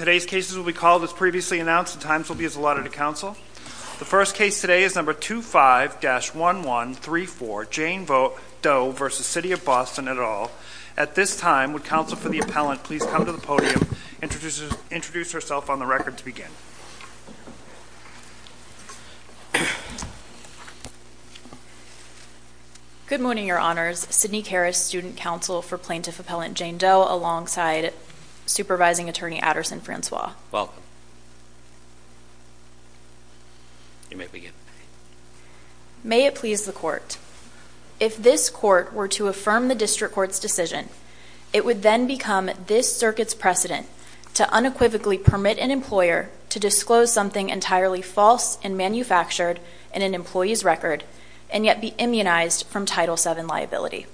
Today's cases will be called as previously announced and times will be allotted to counsel. The first case today is number 25-1134, Jane Doe v. City of Boston et al. At this time, would counsel for the appellant please come to the podium and introduce herself on the record to begin. Good morning, your honors. Sydney Karras, student counsel for plaintiff appellant Jane Doe, alongside supervising attorney Adderson-Francois. You may begin. May it please the court. If this court were to affirm the district court's decision, it would then become this circuit's precedent to unequivocally permit an employer to disclose something entirely false and manufactured in an employee's record and yet be immunized from Title VII liability.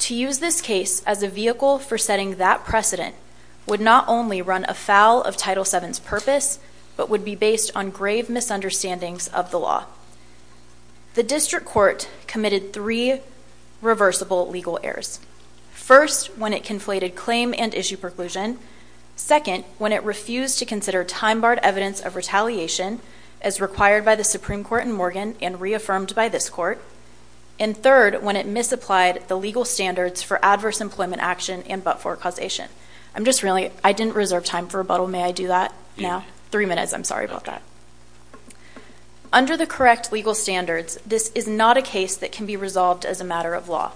To use this case as a vehicle for setting that precedent would not only run afoul of Title VII's purpose, but would be based on grave misunderstandings of the law. The district court committed three reversible legal errors, first when it conflated claim and issue preclusion, second when it refused to consider time-barred evidence of retaliation as required by the Supreme Court in Morgan and reaffirmed by this court, and third when it misapplied the legal standards for adverse employment action and but-for causation. Under the correct legal standards, this is not a case that can be resolved as a matter of law.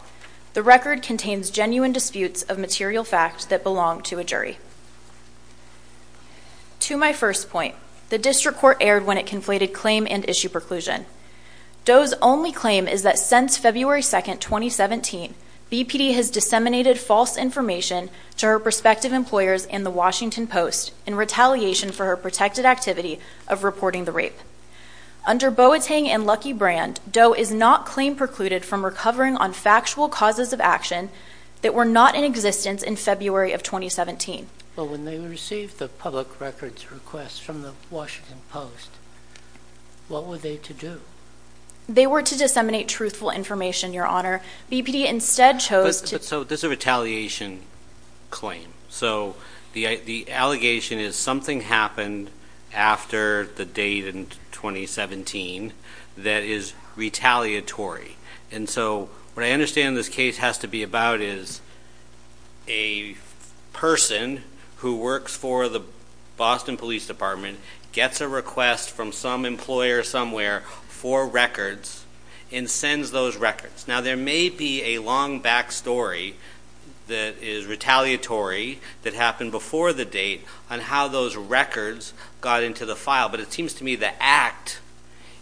The record contains genuine disputes of material facts that belong to a jury. To my first point, the district court erred when it conflated claim and issue preclusion. Doe's only claim is that since February 2, 2017, BPD has disseminated false information to her prospective employers and the Washington Post in retaliation for her protected activity of reporting the rape. Under Boateng and Lucky Brand, Doe is not claim precluded from recovering on factual causes of action that were not in existence in February of 2017. But when they received the public records request from the Washington Post, what were they to do? They were to disseminate truthful information, Your Honor. BPD instead chose to... So this is a retaliation claim. So the allegation is something happened after the date in 2017 that is retaliatory. And so what I understand this case has to be about is a person who works for the Boston Police Department gets a request from some employer somewhere for records and sends those records. Now there may be a long back story that is retaliatory that happened before the date on how those records got into the file. But it seems to me the act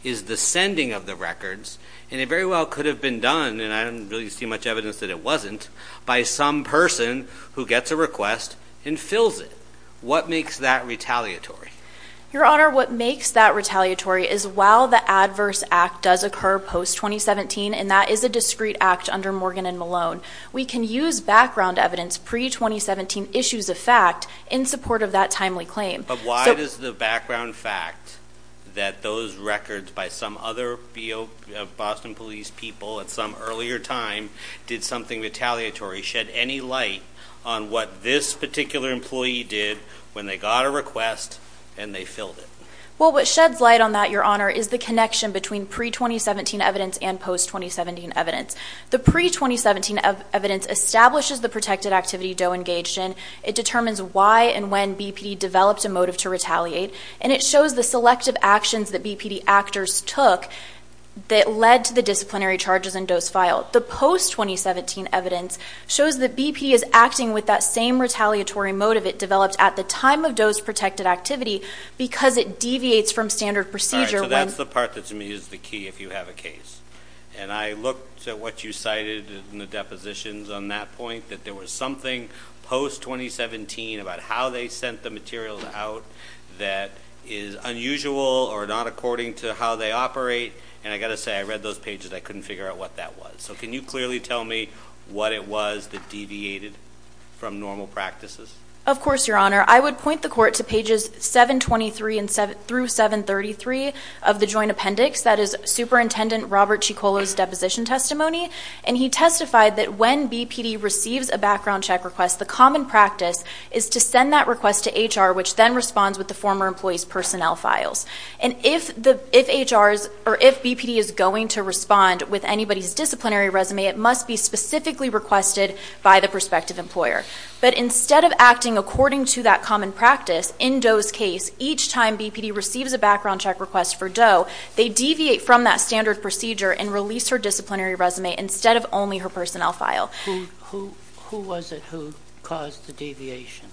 is the sending of the records and it very well could have been done, and I don't really see much evidence that it wasn't, by some person who gets a request and fills it. What makes that retaliatory? Your Honor, what makes that retaliatory is while the adverse act does occur post-2017 and that is a discrete act under Morgan and Malone, we can use background evidence pre-2017 issues of fact in support of that timely claim. But why does the background fact that those records by some other Boston Police people at some earlier time did something retaliatory shed any light on what this particular employee did when they got a request and they filled it? Well, what sheds light on that, Your Honor, is the connection between pre-2017 evidence and post-2017 evidence. The pre-2017 evidence establishes the protected activity Doe engaged in. It determines why and when BPD developed a motive to retaliate. And it shows the selective actions that BPD actors took that led to the disciplinary charges in Doe's file. The post-2017 evidence shows that BPD is acting with that same retaliatory motive it developed at the time of Doe's protected activity because it deviates from standard procedure when— So that's the part that to me is the key if you have a case. And I looked at what you cited in the depositions on that point, that there was something post-2017 about how they sent the material out that is unusual or not according to how they operate. And I got to say, I read those pages, I couldn't figure out what that was. So can you clearly tell me what it was that deviated from normal practices? Of course, Your Honor. I would point the court to pages 723 through 733 of the Joint Appendix. That is Superintendent Robert Ciccola's deposition testimony. And he testified that when BPD receives a background check request, the common practice is to send that request to HR, which then responds with the former employee's personnel files. And if HR's—or if BPD is going to respond with anybody's disciplinary resume, it must be specifically requested by the prospective employer. But instead of acting according to that common practice, in Doe's case, each time BPD receives a background check request for Doe, they deviate from that standard procedure and release her disciplinary resume instead of only her personnel file. Who was it who caused the deviation?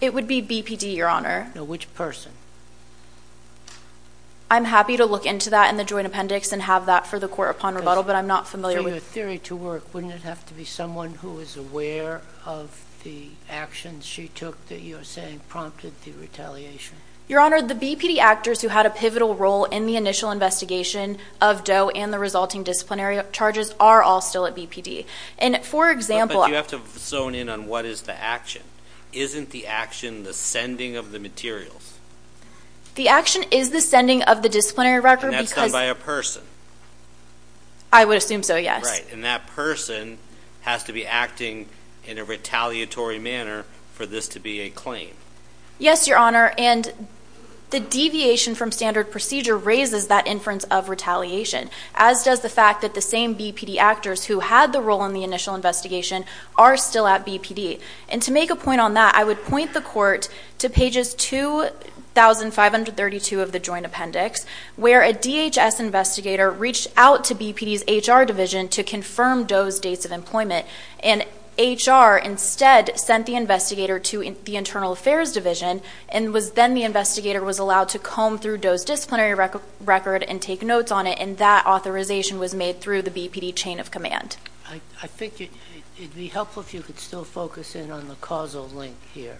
It would be BPD, Your Honor. Which person? I'm happy to look into that in the Joint Appendix and have that for the court upon rebuttal, but I'm not familiar with— So your theory to work, wouldn't it have to be someone who was aware of the actions she took that you're saying prompted the retaliation? Your Honor, the BPD actors who had a pivotal role in the initial investigation of Doe and the resulting disciplinary charges are all still at BPD. And for example— But you have to zone in on what is the action. Isn't the action the sending of the materials? The action is the sending of the disciplinary record because— And that's done by a person? I would assume so, yes. Right. And that person has to be acting in a retaliatory manner for this to be a claim? Yes, Your Honor. And the deviation from standard procedure raises that inference of retaliation, as does the fact that the same BPD actors who had the role in the initial investigation are still at BPD. And to make a point on that, I would point the court to pages 2,532 of the Joint Appendix, where a DHS investigator reached out to BPD's HR division to confirm Doe's dates of employment, and HR instead sent the investigator to the Internal Affairs Division, and then the investigator was allowed to comb through Doe's disciplinary record and take notes on it, and that authorization was made through the BPD chain of command. I think it would be helpful if you could still focus in on the causal link here.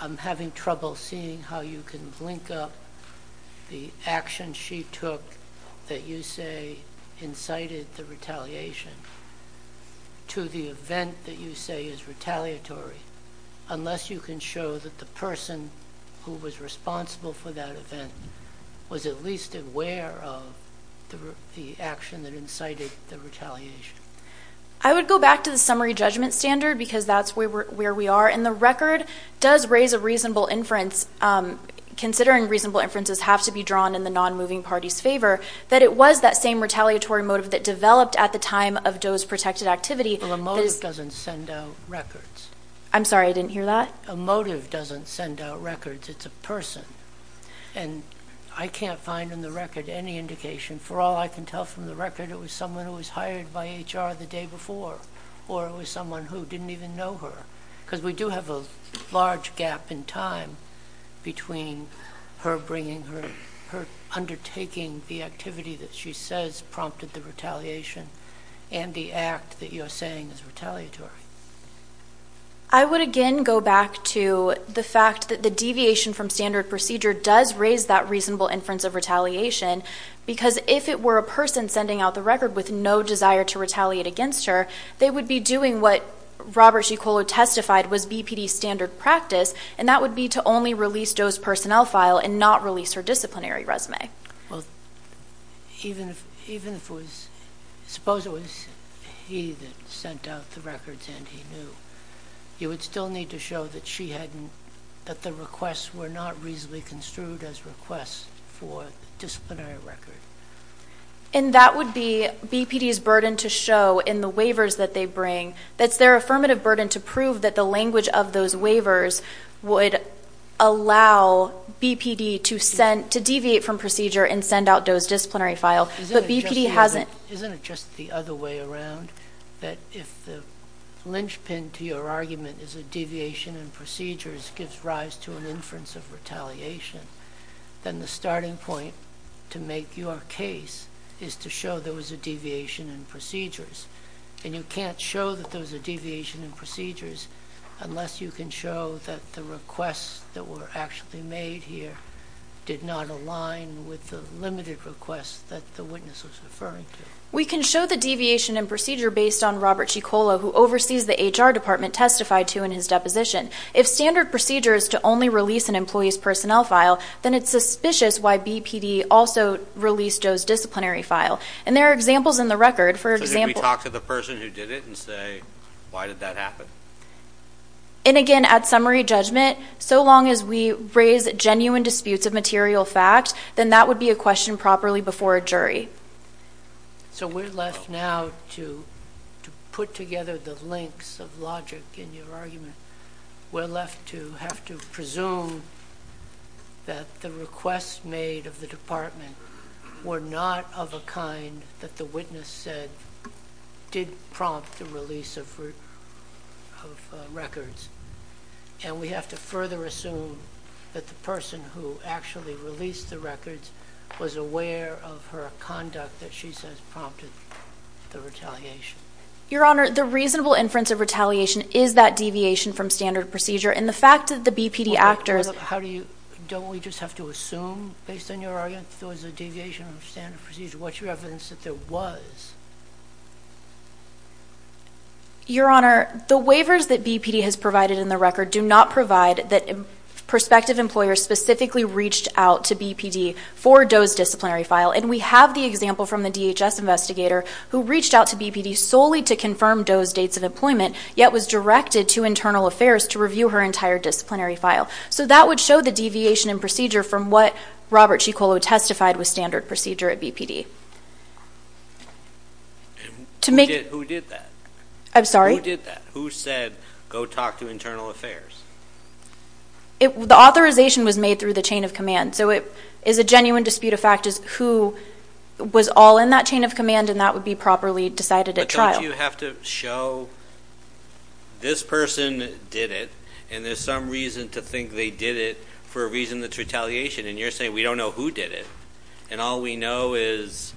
I'm having trouble seeing how you can link up the action she took that you say incited the retaliation to the event that you say is retaliatory, unless you can show that the person who was responsible for that event was at least aware of the action that incited the retaliation. I would go back to the summary judgment standard, because that's where we are, and the record does raise a reasonable inference, considering reasonable inferences have to be drawn in the non-moving party's favor, that it was that same retaliatory motive that developed at the time of Doe's protected activity. Well, a motive doesn't send out records. I'm sorry, I didn't hear that? A motive doesn't send out records, it's a person. And I can't find in the record any indication. For all I can tell from the record, it was someone who was hired by HR the day before, or it was someone who didn't even know her, because we do have a large gap in time between her undertaking the activity that she says prompted the retaliation and the act that you're saying is retaliatory. I would again go back to the fact that the deviation from standard procedure does raise that reasonable inference of retaliation, because if it were a person sending out the record with no desire to retaliate against her, they would be doing what Robert Ciccolo testified was BPD standard practice, and that would be to only release Doe's personnel file and not release her disciplinary resume. Well, even if it was, suppose it was he that sent out the records and he knew, you would still need to show that she hadn't, that the requests were not reasonably construed as requests for disciplinary record. And that would be BPD's burden to show in the waivers that they bring, that's their affirmative burden to prove that the language of those waivers would allow BPD to deviate from procedure and send out Doe's disciplinary file, but BPD hasn't. Isn't it just the other way around, that if the linchpin to your argument is a deviation in procedures gives rise to an inference of retaliation, then the starting point to make your case is to show there was a deviation in procedures. And you can't show that there was a deviation in procedures unless you can show that the requests that were actually made here did not align with the limited requests that the witness was referring to. We can show the deviation in procedure based on Robert Ciccolo, who oversees the HR department, testified to in his deposition. If standard procedure is to only release an employee's personnel file, then it's suspicious why BPD also released Doe's disciplinary file. And there are examples in the record, for example— Can we talk to the person who did it and say, why did that happen? And again, at summary judgment, so long as we raise genuine disputes of material fact, then that would be a question properly before a jury. So we're left now to put together the links of logic in your argument. We're left to have to presume that the requests made of the department were not of a kind that the witness said did prompt the release of records. And we have to further assume that the person who actually released the records was aware of her conduct that she says prompted the retaliation. Your Honor, the reasonable inference of retaliation is that deviation from standard procedure. And the fact that the BPD actors— How do you—don't we just have to assume, based on your argument, there was a deviation of standard procedure? What's your evidence that there was? Your Honor, the waivers that BPD has provided in the record do not provide that prospective employer specifically reached out to BPD for Doe's disciplinary file. And we have the example from the DHS investigator who reached out to BPD solely to confirm Doe's dates of employment, yet was directed to Internal Affairs to review her entire disciplinary file. So that would show the deviation in procedure from what Robert Ciccolo testified was standard procedure at BPD. And who did that? I'm sorry? Who did that? Who said, go talk to Internal Affairs? The authorization was made through the chain of command. So it is a genuine dispute of fact is who was all in that chain of command and that would be properly decided at trial. But don't you have to show this person did it and there's some reason to think they did it for a reason that's retaliation. And you're saying we don't know who did it. And all we know is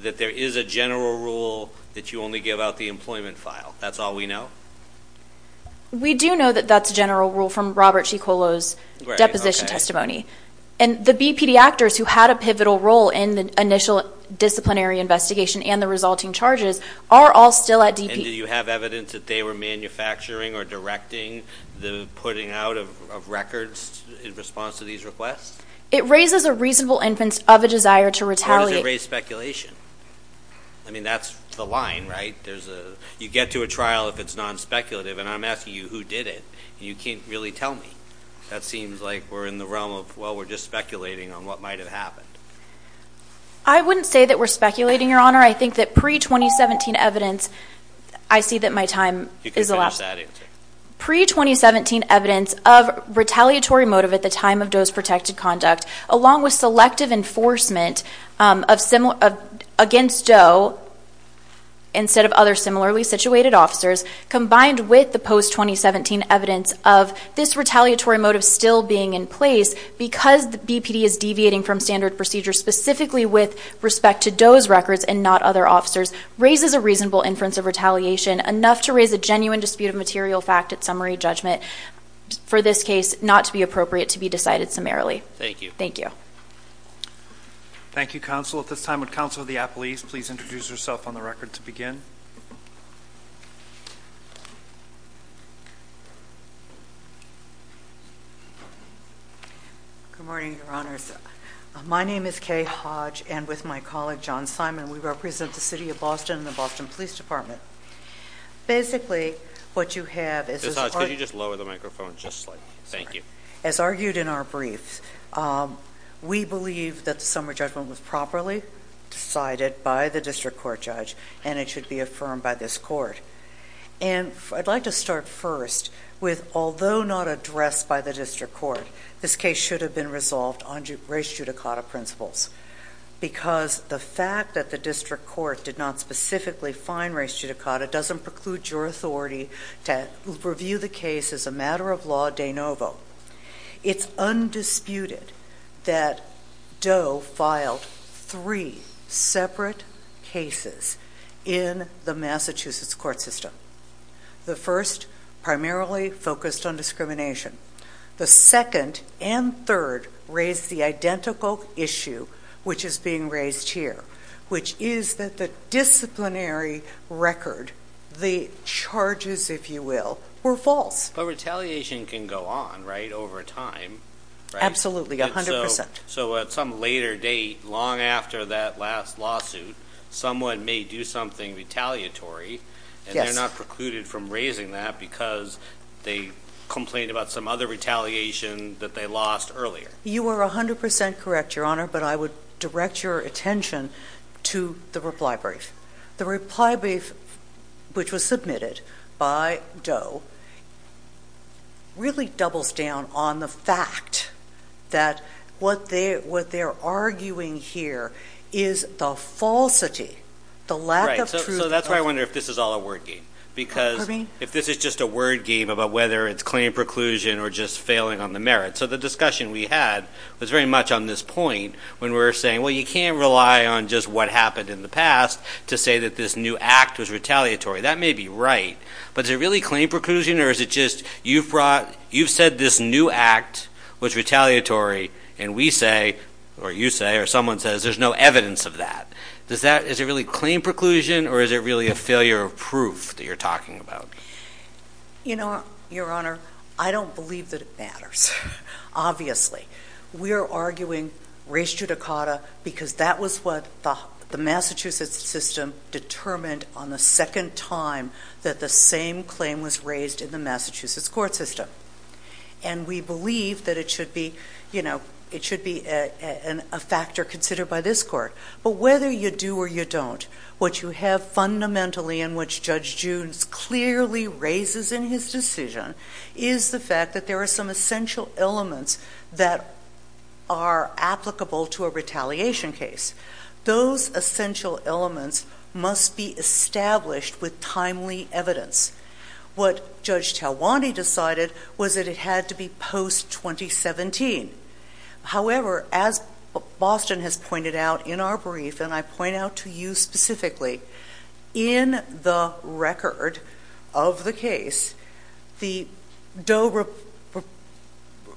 that there is a general rule that you only give out the employment file. That's all we know? We do know that that's a general rule from Robert Ciccolo's deposition testimony. And the BPD actors who had a pivotal role in the initial disciplinary investigation and the resulting charges are all still at DP. And do you have evidence that they were manufacturing or directing the putting out of records in response to these requests? It raises a reasonable inference of a desire to retaliate. I mean, that's the line, right? There's a, you get to a trial if it's non-speculative and I'm asking you who did it and you can't really tell me. That seems like we're in the realm of, well, we're just speculating on what might have happened. I wouldn't say that we're speculating, Your Honor. I think that pre-2017 evidence, I see that my time is elapsed. You can finish that answer. Pre-2017 evidence of retaliatory motive at the time of Doe's protected conduct, along with selective enforcement against Doe instead of other similarly situated officers, combined with the post-2017 evidence of this retaliatory motive still being in place because the BPD is deviating from standard procedures, specifically with respect to Doe's records and not other officers, raises a reasonable inference of retaliation, enough to raise a genuine dispute of material fact at summary judgment. For this case, not to be appropriate to be decided summarily. Thank you. Thank you. Thank you, counsel. At this time, would counsel of the appellees please introduce yourself on the record to begin? Good morning, Your Honors. My name is Kay Hodge and with my colleague, John Simon, we represent the City of Boston and the Boston Police Department. Basically, what you have is- Ms. Hodge, could you just lower the microphone just slightly? Thank you. As argued in our briefs, we believe that the summary judgment was properly decided by the district court judge and it should be affirmed by this court. And I'd like to start first with, although not addressed by the district court, this case should have been resolved on race judicata principles because the fact that the district court did not specifically find race judicata doesn't preclude your authority to review the case as a matter of law de novo. It's undisputed that Doe filed three separate cases in the Massachusetts court system. The first primarily focused on discrimination. The second and third raised the identical issue which is being raised here, which is that the disciplinary record, the charges, if you will, were false. But retaliation can go on, right, over time, right? Absolutely, 100%. So at some later date, long after that last lawsuit, someone may do something retaliatory and they're not precluded from raising that because they complained about some other retaliation that they lost earlier. You are 100% correct, Your Honor, but I would direct your attention to the reply brief. The reply brief which was submitted by Doe really doubles down on the fact that what they're arguing here is the falsity, the lack of truth. So that's why I wonder if this is all a word game. Because if this is just a word game about whether it's claim preclusion or just failing on the merit. So the discussion we had was very much on this point when we were saying, well, you can't rely on just what happened in the past to say that this new act was retaliatory. That may be right, but is it really claim preclusion or is it just you've brought, you've said this new act was retaliatory and we say, or you say, or someone says there's no evidence of that. Is it really claim preclusion or is it really a failure of proof that you're talking about? You know, Your Honor, I don't believe that it matters, obviously. We are arguing res judicata because that was what the Massachusetts system determined on the second time that the same claim was raised in the Massachusetts court system. And we believe that it should be, you know, it should be a factor considered by this court. But whether you do or you don't, what you have fundamentally in which Judge June clearly raises in his decision is the fact that there are some essential elements that are applicable to a retaliation case. Those essential elements must be established with timely evidence. What Judge Talwanti decided was that it had to be post-2017. However, as Boston has pointed out in our brief, and I point out to you specifically, in the record of the case, the DOE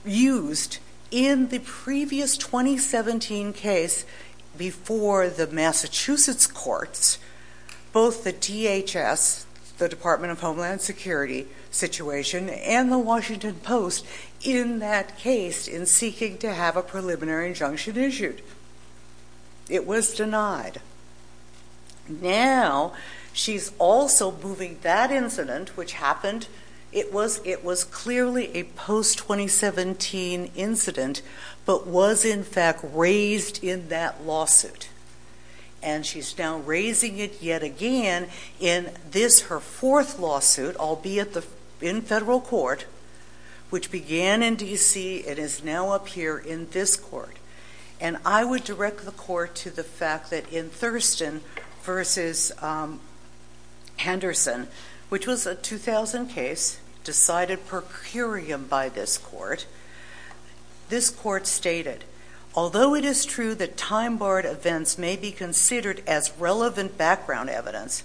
used in the previous 2017 case before the Massachusetts courts, both the DHS, the Department of Homeland Security situation, and the Washington Post in that case in seeking to have a preliminary injunction issued. It was denied. Now, she's also moving that incident, which happened, it was clearly a post-2017 incident, but was in fact raised in that lawsuit. And she's now raising it yet again in this, her fourth lawsuit, albeit in federal court, which began in D.C. and is now up here in this court. And I would direct the court to the fact that in Thurston versus Henderson, which was a 2000 case decided per curiam by this court, this court stated, although it is true that time-barred events may be considered as relevant background evidence,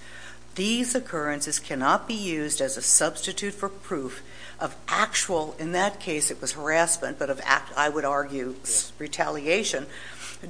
these occurrences cannot be used as a substitute for proof of actual, in that case, it was harassment, but of, I would argue, retaliation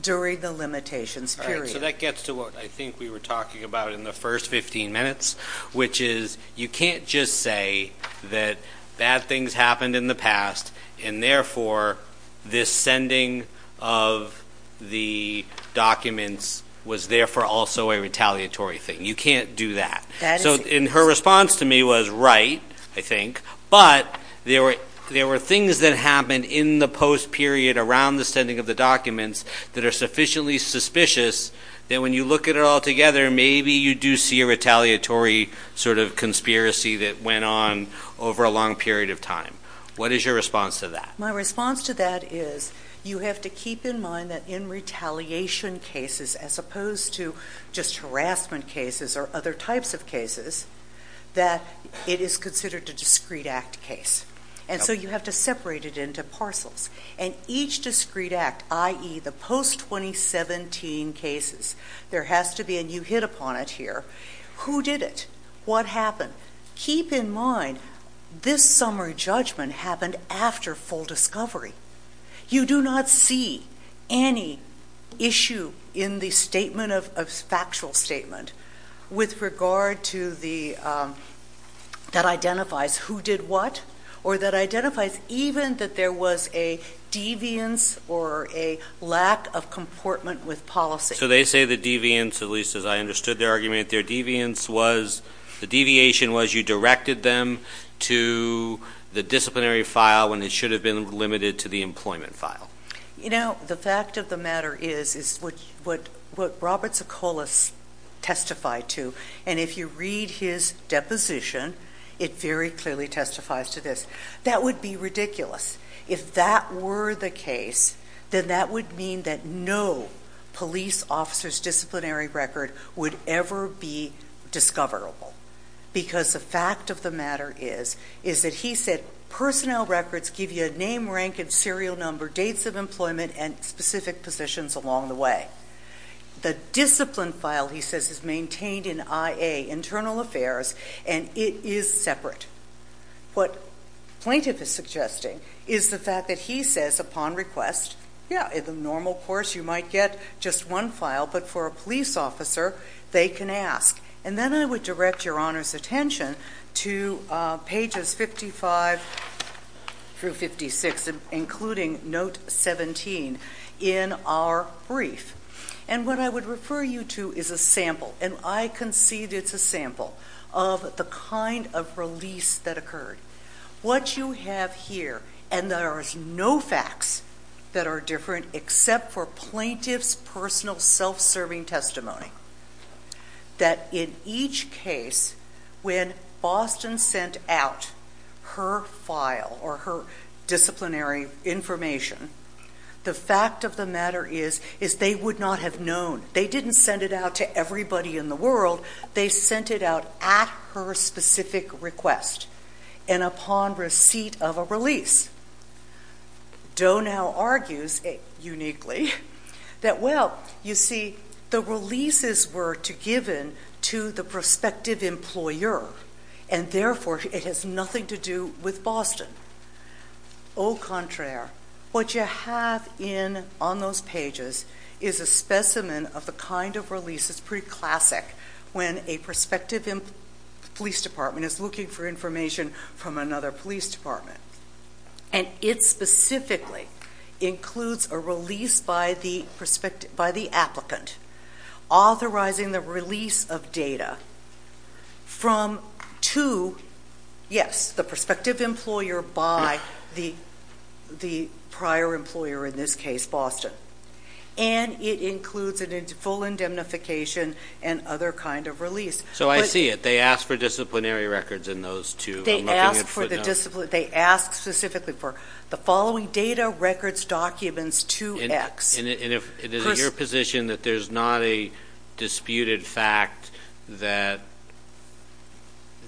during the limitations period. So that gets to what I think we were talking about in the first 15 minutes, which is you can't just say that bad things happened in the past, and therefore, this sending of the documents was therefore also a retaliatory thing. You can't do that. So in her response to me was right, I think. But there were things that happened in the post-period around the sending of the documents that are sufficiently suspicious that when you look at it all together, maybe you do see a retaliatory sort of conspiracy that went on over a long period of time. What is your response to that? My response to that is you have to keep in mind that in retaliation cases, as opposed to just harassment cases or other types of cases, that it is considered a discrete act case. And so you have to separate it into parcels. And each discrete act, i.e., the post-2017 cases, there has to be a new hit upon it here. Who did it? What happened? Keep in mind, this summary judgment happened after full discovery. You do not see any issue in the factual statement that identifies who did what or that identifies even that there was a deviance or a lack of comportment with policy. So they say the deviance, at least as I understood their argument, their deviance was the deviation was you directed them to the disciplinary file and it should have been limited to the employment file. You know, the fact of the matter is what Robert Sokolis testified to, and if you read his deposition, it very clearly testifies to this. That would be ridiculous. If that were the case, then that would mean that no police officer's disciplinary record would ever be discoverable. Because the fact of the matter is, is that he said personnel records give you a name, rank, and serial number, dates of employment, and specific positions along the way. The discipline file, he says, is maintained in IA, internal affairs, and it is separate. What plaintiff is suggesting is the fact that he says upon request, yeah, in the normal course you might get just one file, but for a police officer, they can ask. And then I would direct your Honor's attention to pages 55 through 56, including note 17 in our brief. And what I would refer you to is a sample, and I concede it's a sample, of the kind of release that occurred. What you have here, and there is no facts that are different except for plaintiff's personal self-serving testimony. That in each case, when Boston sent out her file or her disciplinary information, the fact of the matter is, is they would not have known. They didn't send it out to everybody in the world. They sent it out at her specific request and upon receipt of a release. Doe now argues, uniquely, that, well, you see, the releases were given to the prospective employer and therefore it has nothing to do with Boston. Au contraire. What you have in, on those pages, is a specimen of the kind of release, it's pretty classic, when a prospective police department is looking for information from another police department. And it specifically includes a release by the applicant, authorizing the release of data from to, yes, the prospective employer by the prior employer, in this case, Boston. And it includes a full indemnification and other kind of release. But... So I see it. They asked for disciplinary records in those two. They asked for the discipline, they asked specifically for the following data, records, documents, 2X. And if it is your position that there's not a disputed fact that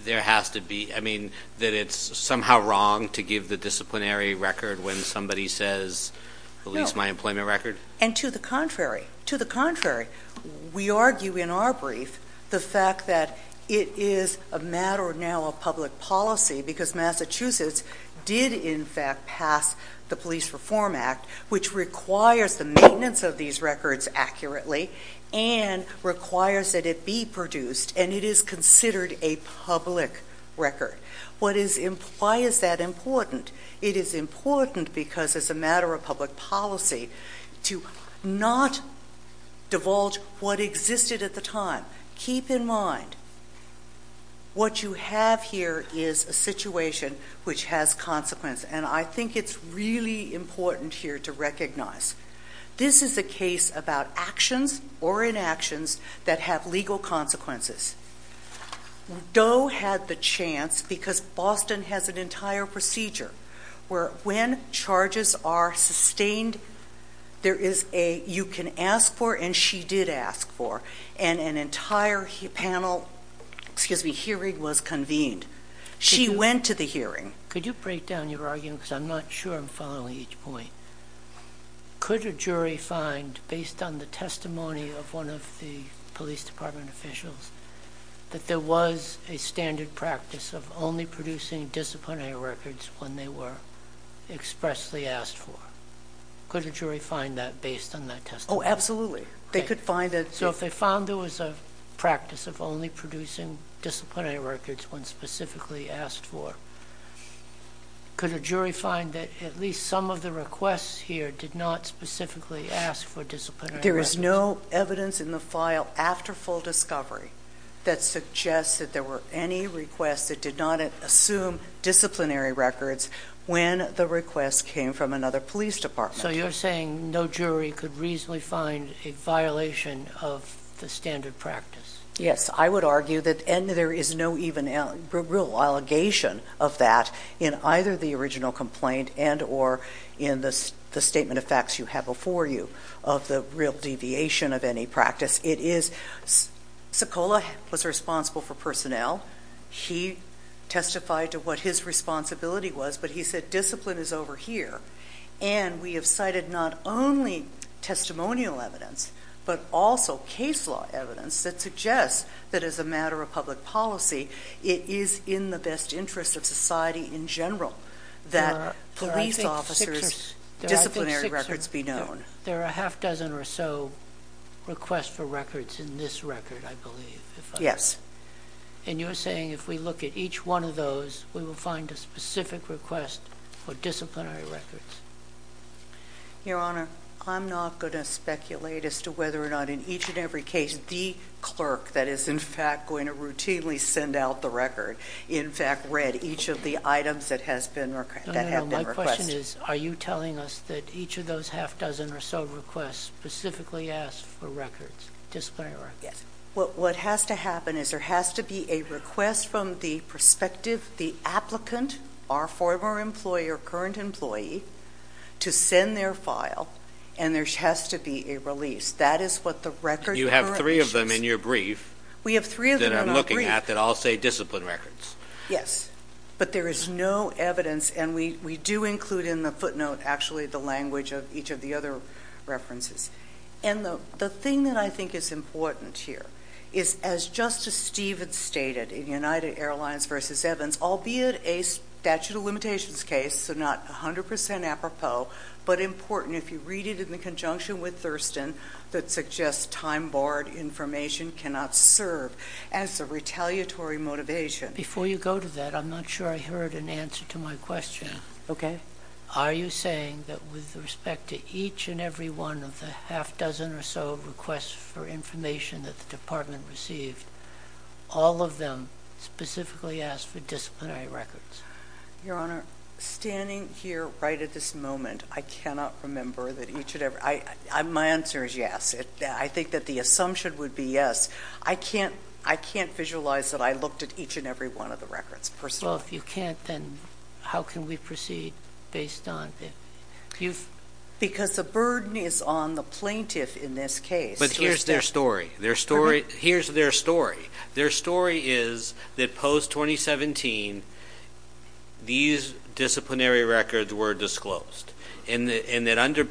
there has to be, I mean, that it's somehow wrong to give the disciplinary record when somebody says, release my employment record? And to the contrary, to the contrary. We argue in our brief, the fact that it is a matter now of public policy, because Massachusetts did in fact pass the Police Reform Act, which requires the maintenance of these records accurately, and requires that it be produced, and it is considered a public record. What is, why is that important? It is important because it's a matter of public policy to not divulge what existed at the time. Keep in mind, what you have here is a situation which has consequence. And I think it's really important here to recognize. This is a case about actions or inactions that have legal consequences. Doe had the chance, because Boston has an entire procedure, where when charges are sustained, there is a, you can ask for, and she did ask for. And an entire panel, excuse me, hearing was convened. She went to the hearing. Could you break down your argument, because I'm not sure I'm following each point. Could a jury find, based on the testimony of one of the police department officials, that there was a standard practice of only producing disciplinary records when they were expressly asked for? Could a jury find that based on that testimony? Oh, absolutely. They could find that. So if they found there was a practice of only producing disciplinary records when specifically asked for, could a jury find that at least some of the requests here did not specifically ask for disciplinary records? There's no evidence in the file after full discovery that suggests that there were any requests that did not assume disciplinary records when the request came from another police department. So you're saying no jury could reasonably find a violation of the standard practice? Yes. I would argue that, and there is no even real allegation of that in either the original complaint and or in the statement of facts you have before you of the real deviation of any practice. Sekola was responsible for personnel. He testified to what his responsibility was. But he said, discipline is over here. And we have cited not only testimonial evidence, but also case law evidence that suggests that, as a matter of public policy, it is in the best interest of society in general that police officers' disciplinary records be known. There are a half dozen or so requests for records in this record, I believe. Yes. And you're saying if we look at each one of those, we will find a specific request for disciplinary records? Your Honor, I'm not going to speculate as to whether or not in each and every case the clerk that is in fact going to routinely send out the record in fact read each of the items that have been requested. No, no, no. My question is, are you telling us that each of those half dozen or so requests specifically ask for records, disciplinary records? Yes. What has to happen is there has to be a request from the prospective, the applicant, our former employee or current employee, to send their file, and there has to be a release. That is what the record currently says. You have three of them in your brief. We have three of them in our brief. I'm looking at that all say discipline records. Yes, but there is no evidence, and we do include in the footnote, actually, the language of each of the other references. And the thing that I think is important here is, as Justice Stevens stated, in United Airlines v. Evans, albeit a statute of limitations case, so not 100% apropos, but important if you read it in conjunction with Thurston, that suggests time-barred information cannot serve. As a retaliatory motivation— Before you go to that, I'm not sure I heard an answer to my question. Okay. Are you saying that with respect to each and every one of the half dozen or so requests for information that the Department received, all of them specifically ask for disciplinary records? Your Honor, standing here right at this moment, I cannot remember that each and every— my answer is yes. I think that the assumption would be yes. I can't visualize that I looked at each and every one of the records personally. Well, if you can't, then how can we proceed based on— Because the burden is on the plaintiff in this case. But here's their story. Here's their story. Their story is that post-2017, these disciplinary records were disclosed, and that under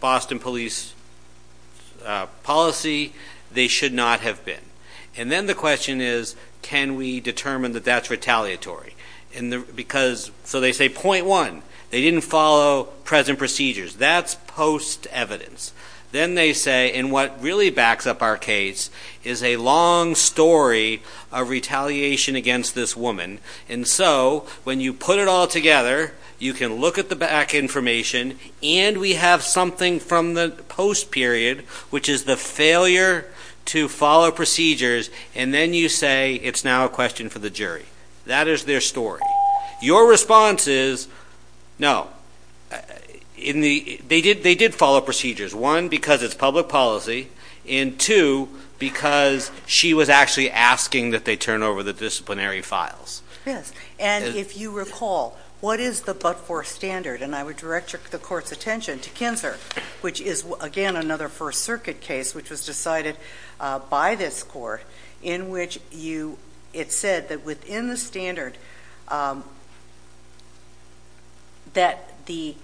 Boston Police policy, they should not have been. And then the question is, can we determine that that's retaliatory? So they say, point one, they didn't follow present procedures. That's post-evidence. Then they say, and what really backs up our case, is a long story of retaliation against this woman. And so when you put it all together, you can look at the back information, and we have something from the post-period, which is the failure to follow procedures, and then you say it's now a question for the jury. That is their story. Your response is, no. They did follow procedures. One, because it's public policy. And two, because she was actually asking that they turn over the disciplinary files. And if you recall, what is the but-for standard? And I would direct the court's attention to Kinzer, which is, again, another First Circuit case, which was decided by this court, in which it said that within the standard, that the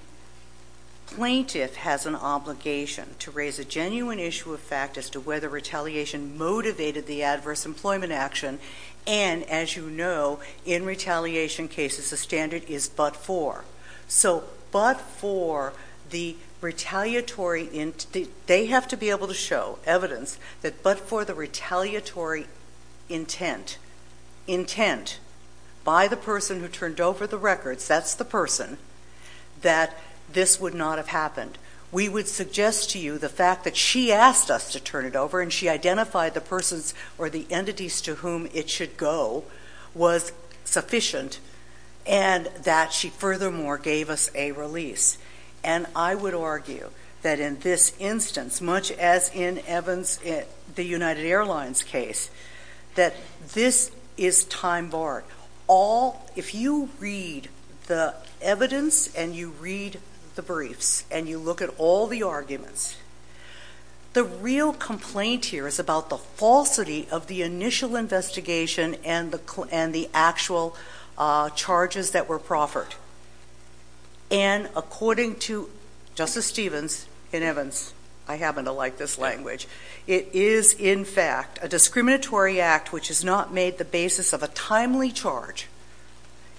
plaintiff has an obligation to raise a genuine issue of fact as to whether retaliation motivated the adverse employment action. And as you know, in retaliation cases, the standard is but-for. So but-for the retaliatory, they have to be able to show evidence, that but-for the retaliatory intent, intent by the person who turned over the records, that's the person, that this would not have happened. We would suggest to you the fact that she asked us to turn it over, and she identified the persons or the entities to whom it should go was sufficient, and that she furthermore gave us a release. And I would argue that in this instance, much as in Evans, the United Airlines case, that this is time-barred. If you read the evidence, and you read the briefs, and you look at all the arguments, the real complaint here is about the falsity of the initial investigation and the actual charges that were proffered. And according to Justice Stevens, in Evans, I happen to like this language, it is in fact a discriminatory act which has not made the basis of a timely charge,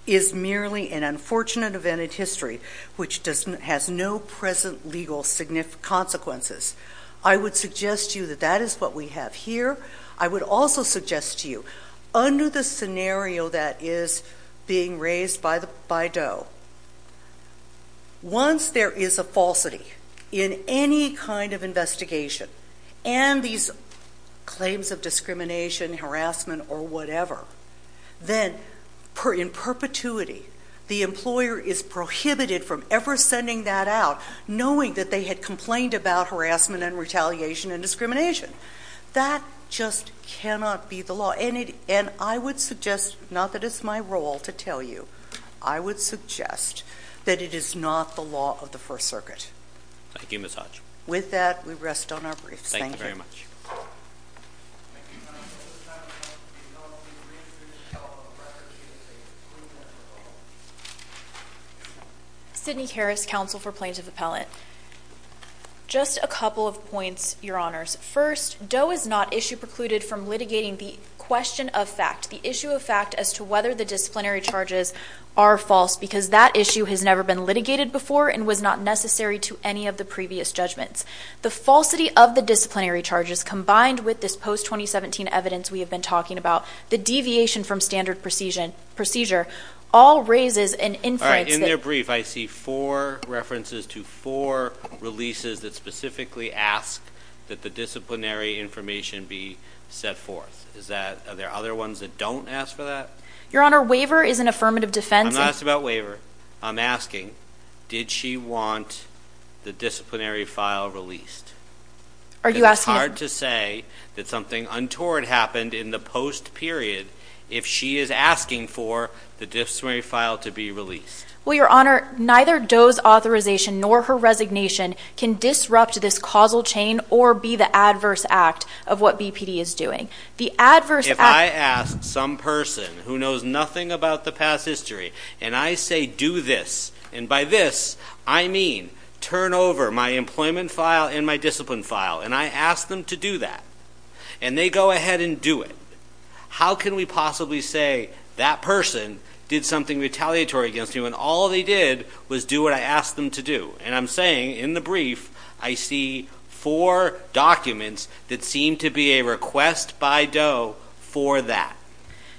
is merely an unfortunate event in history, which has no present legal consequences. I would suggest to you that that is what we have here. I would also suggest to you, under the scenario that is being raised by Doe, once there is a falsity in any kind of investigation, and these claims of discrimination, harassment, or whatever, then in perpetuity, the employer is prohibited from ever sending that out, knowing that they had complained about harassment and retaliation and discrimination. That just cannot be the law. And I would suggest, not that it's my role to tell you, I would suggest that it is not the law of the First Circuit. Thank you, Ms. Hutch. With that, we rest on our briefs. Thank you. Sidney Harris, Counsel for Plaintiff Appellant. Just a couple of points, Your Honors. First, Doe is not issue precluded from litigating the question of fact, the issue of fact as to whether the disciplinary charges are false, because that issue has never been litigated before, and was not necessary to any of the previous judgments. The falsity of the disciplinary charges, combined with this post-2017 evidence we have been talking about, the deviation from standard procedure, all raises an influence that- All right, in their brief, I see four references to four releases that specifically ask that the disciplinary information be set forth. Are there other ones that don't ask for that? Your Honor, waiver is an affirmative defense- I'm asking, did she want the disciplinary file released? Are you asking- It's hard to say that something untoward happened in the post-period if she is asking for the disciplinary file to be released. Well, Your Honor, neither Doe's authorization nor her resignation can disrupt this causal chain or be the adverse act of what BPD is doing. The adverse act- If I ask some person who knows nothing about the past history and I say, do this, and by this, I mean, turn over my employment file and my discipline file, and I ask them to do that, and they go ahead and do it, how can we possibly say that person did something retaliatory against me when all they did was do what I asked them to do? And I'm saying, in the brief, I see four documents that seem to be a request by Doe for that.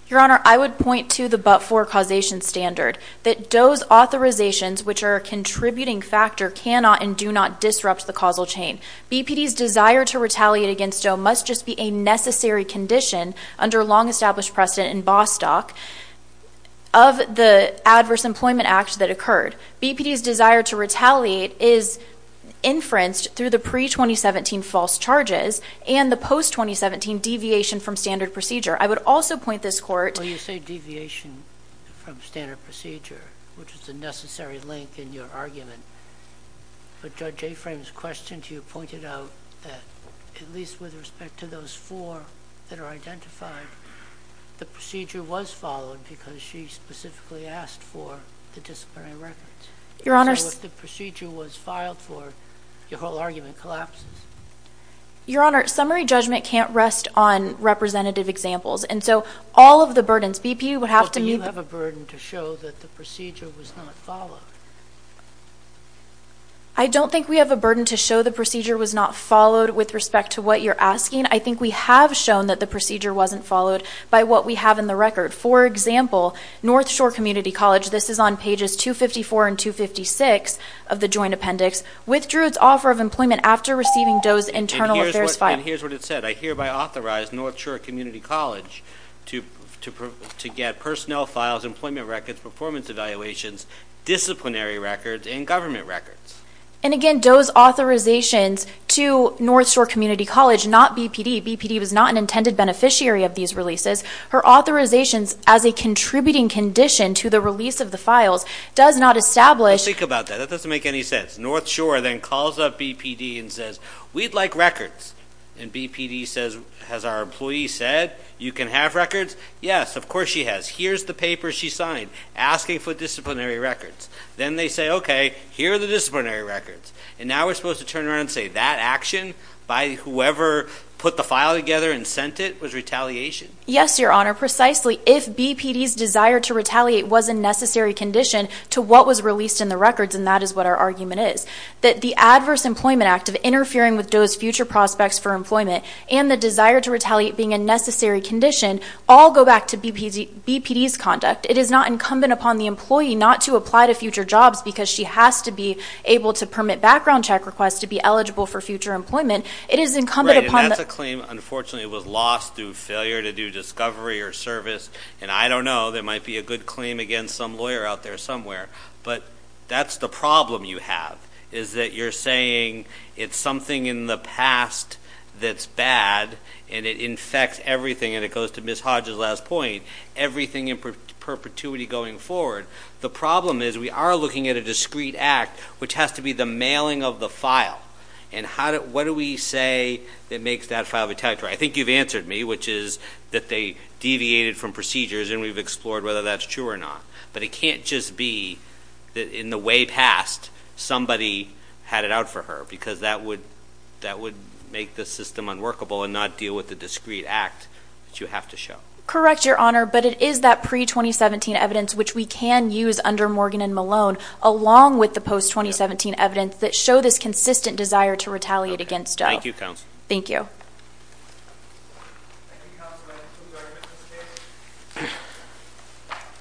Your Honor, I would point to the but-for causation standard, that Doe's authorizations, which are a contributing factor, cannot and do not disrupt the causal chain. BPD's desire to retaliate against Doe must just be a necessary condition under long-established precedent in Bostock of the Adverse Employment Act that occurred. BPD's desire to retaliate is inferenced through the pre-2017 false charges and the post-2017 deviation from standard procedure. I would also point this court... Well, you say deviation from standard procedure, which is a necessary link in your argument, but Judge Aframe's question to you pointed out that, at least with respect to those four that are identified, the procedure was followed because she specifically asked for the disciplinary records. Your Honor... So if the procedure was filed for, your whole argument collapses. Your Honor, summary judgment can't rest on representative examples, and so all of the burdens BPD would have to meet... Do you have a burden to show that the procedure was not followed? I don't think we have a burden to show the procedure was not followed with respect to what you're asking. I think we have shown that the procedure wasn't followed by what we have in the record. For example, North Shore Community College, this is on pages 254 and 256 of the Joint Appendix, withdrew its offer of employment after receiving Doe's internal affairs file. And here's what it said, I hereby authorize North Shore Community College to get personnel files, employment records, performance evaluations, disciplinary records, and government records. And again, Doe's authorizations to North Shore Community College, not BPD, BPD was not an intended beneficiary of these releases. Her authorizations as a contributing condition to the release of the files does not establish... Think about that. That doesn't make any sense. North Shore then calls up BPD and says, we'd like records. And BPD says, has our employee said you can have records? Yes, of course she has. Here's the paper she signed asking for disciplinary records. Then they say, okay, here are the disciplinary records. And now we're supposed to turn around and say that action by whoever put the file together and sent it was retaliation. Yes, Your Honor, precisely. If BPD's desire to retaliate was a necessary condition to what was released in the records, and that is what our argument is, that the Adverse Employment Act of interfering with Doe's future prospects for employment and the desire to retaliate being a necessary condition all go back to BPD's conduct. It is not incumbent upon the employee not to apply to future jobs because she has to be able to permit background check requests to be eligible for future employment. It is incumbent upon- Right, and that's a claim. Unfortunately, it was lost through failure to do discovery or service. And I don't know, there might be a good claim against some lawyer out there, but that's the problem you have, is that you're saying it's something in the past that's bad, and it infects everything, and it goes to Ms. Hodge's last point, everything in perpetuity going forward. The problem is we are looking at a discreet act, which has to be the mailing of the file. And what do we say that makes that file detectable? I think you've answered me, which is that they deviated from procedures, and we've explored whether that's true or not. But it can't just be that in the way past, somebody had it out for her, because that would make the system unworkable, and not deal with the discreet act that you have to show. Correct, Your Honor, but it is that pre-2017 evidence, which we can use under Morgan and Malone, along with the post-2017 evidence that show this consistent desire to retaliate against DOE. Thank you, Counsel. Thank you.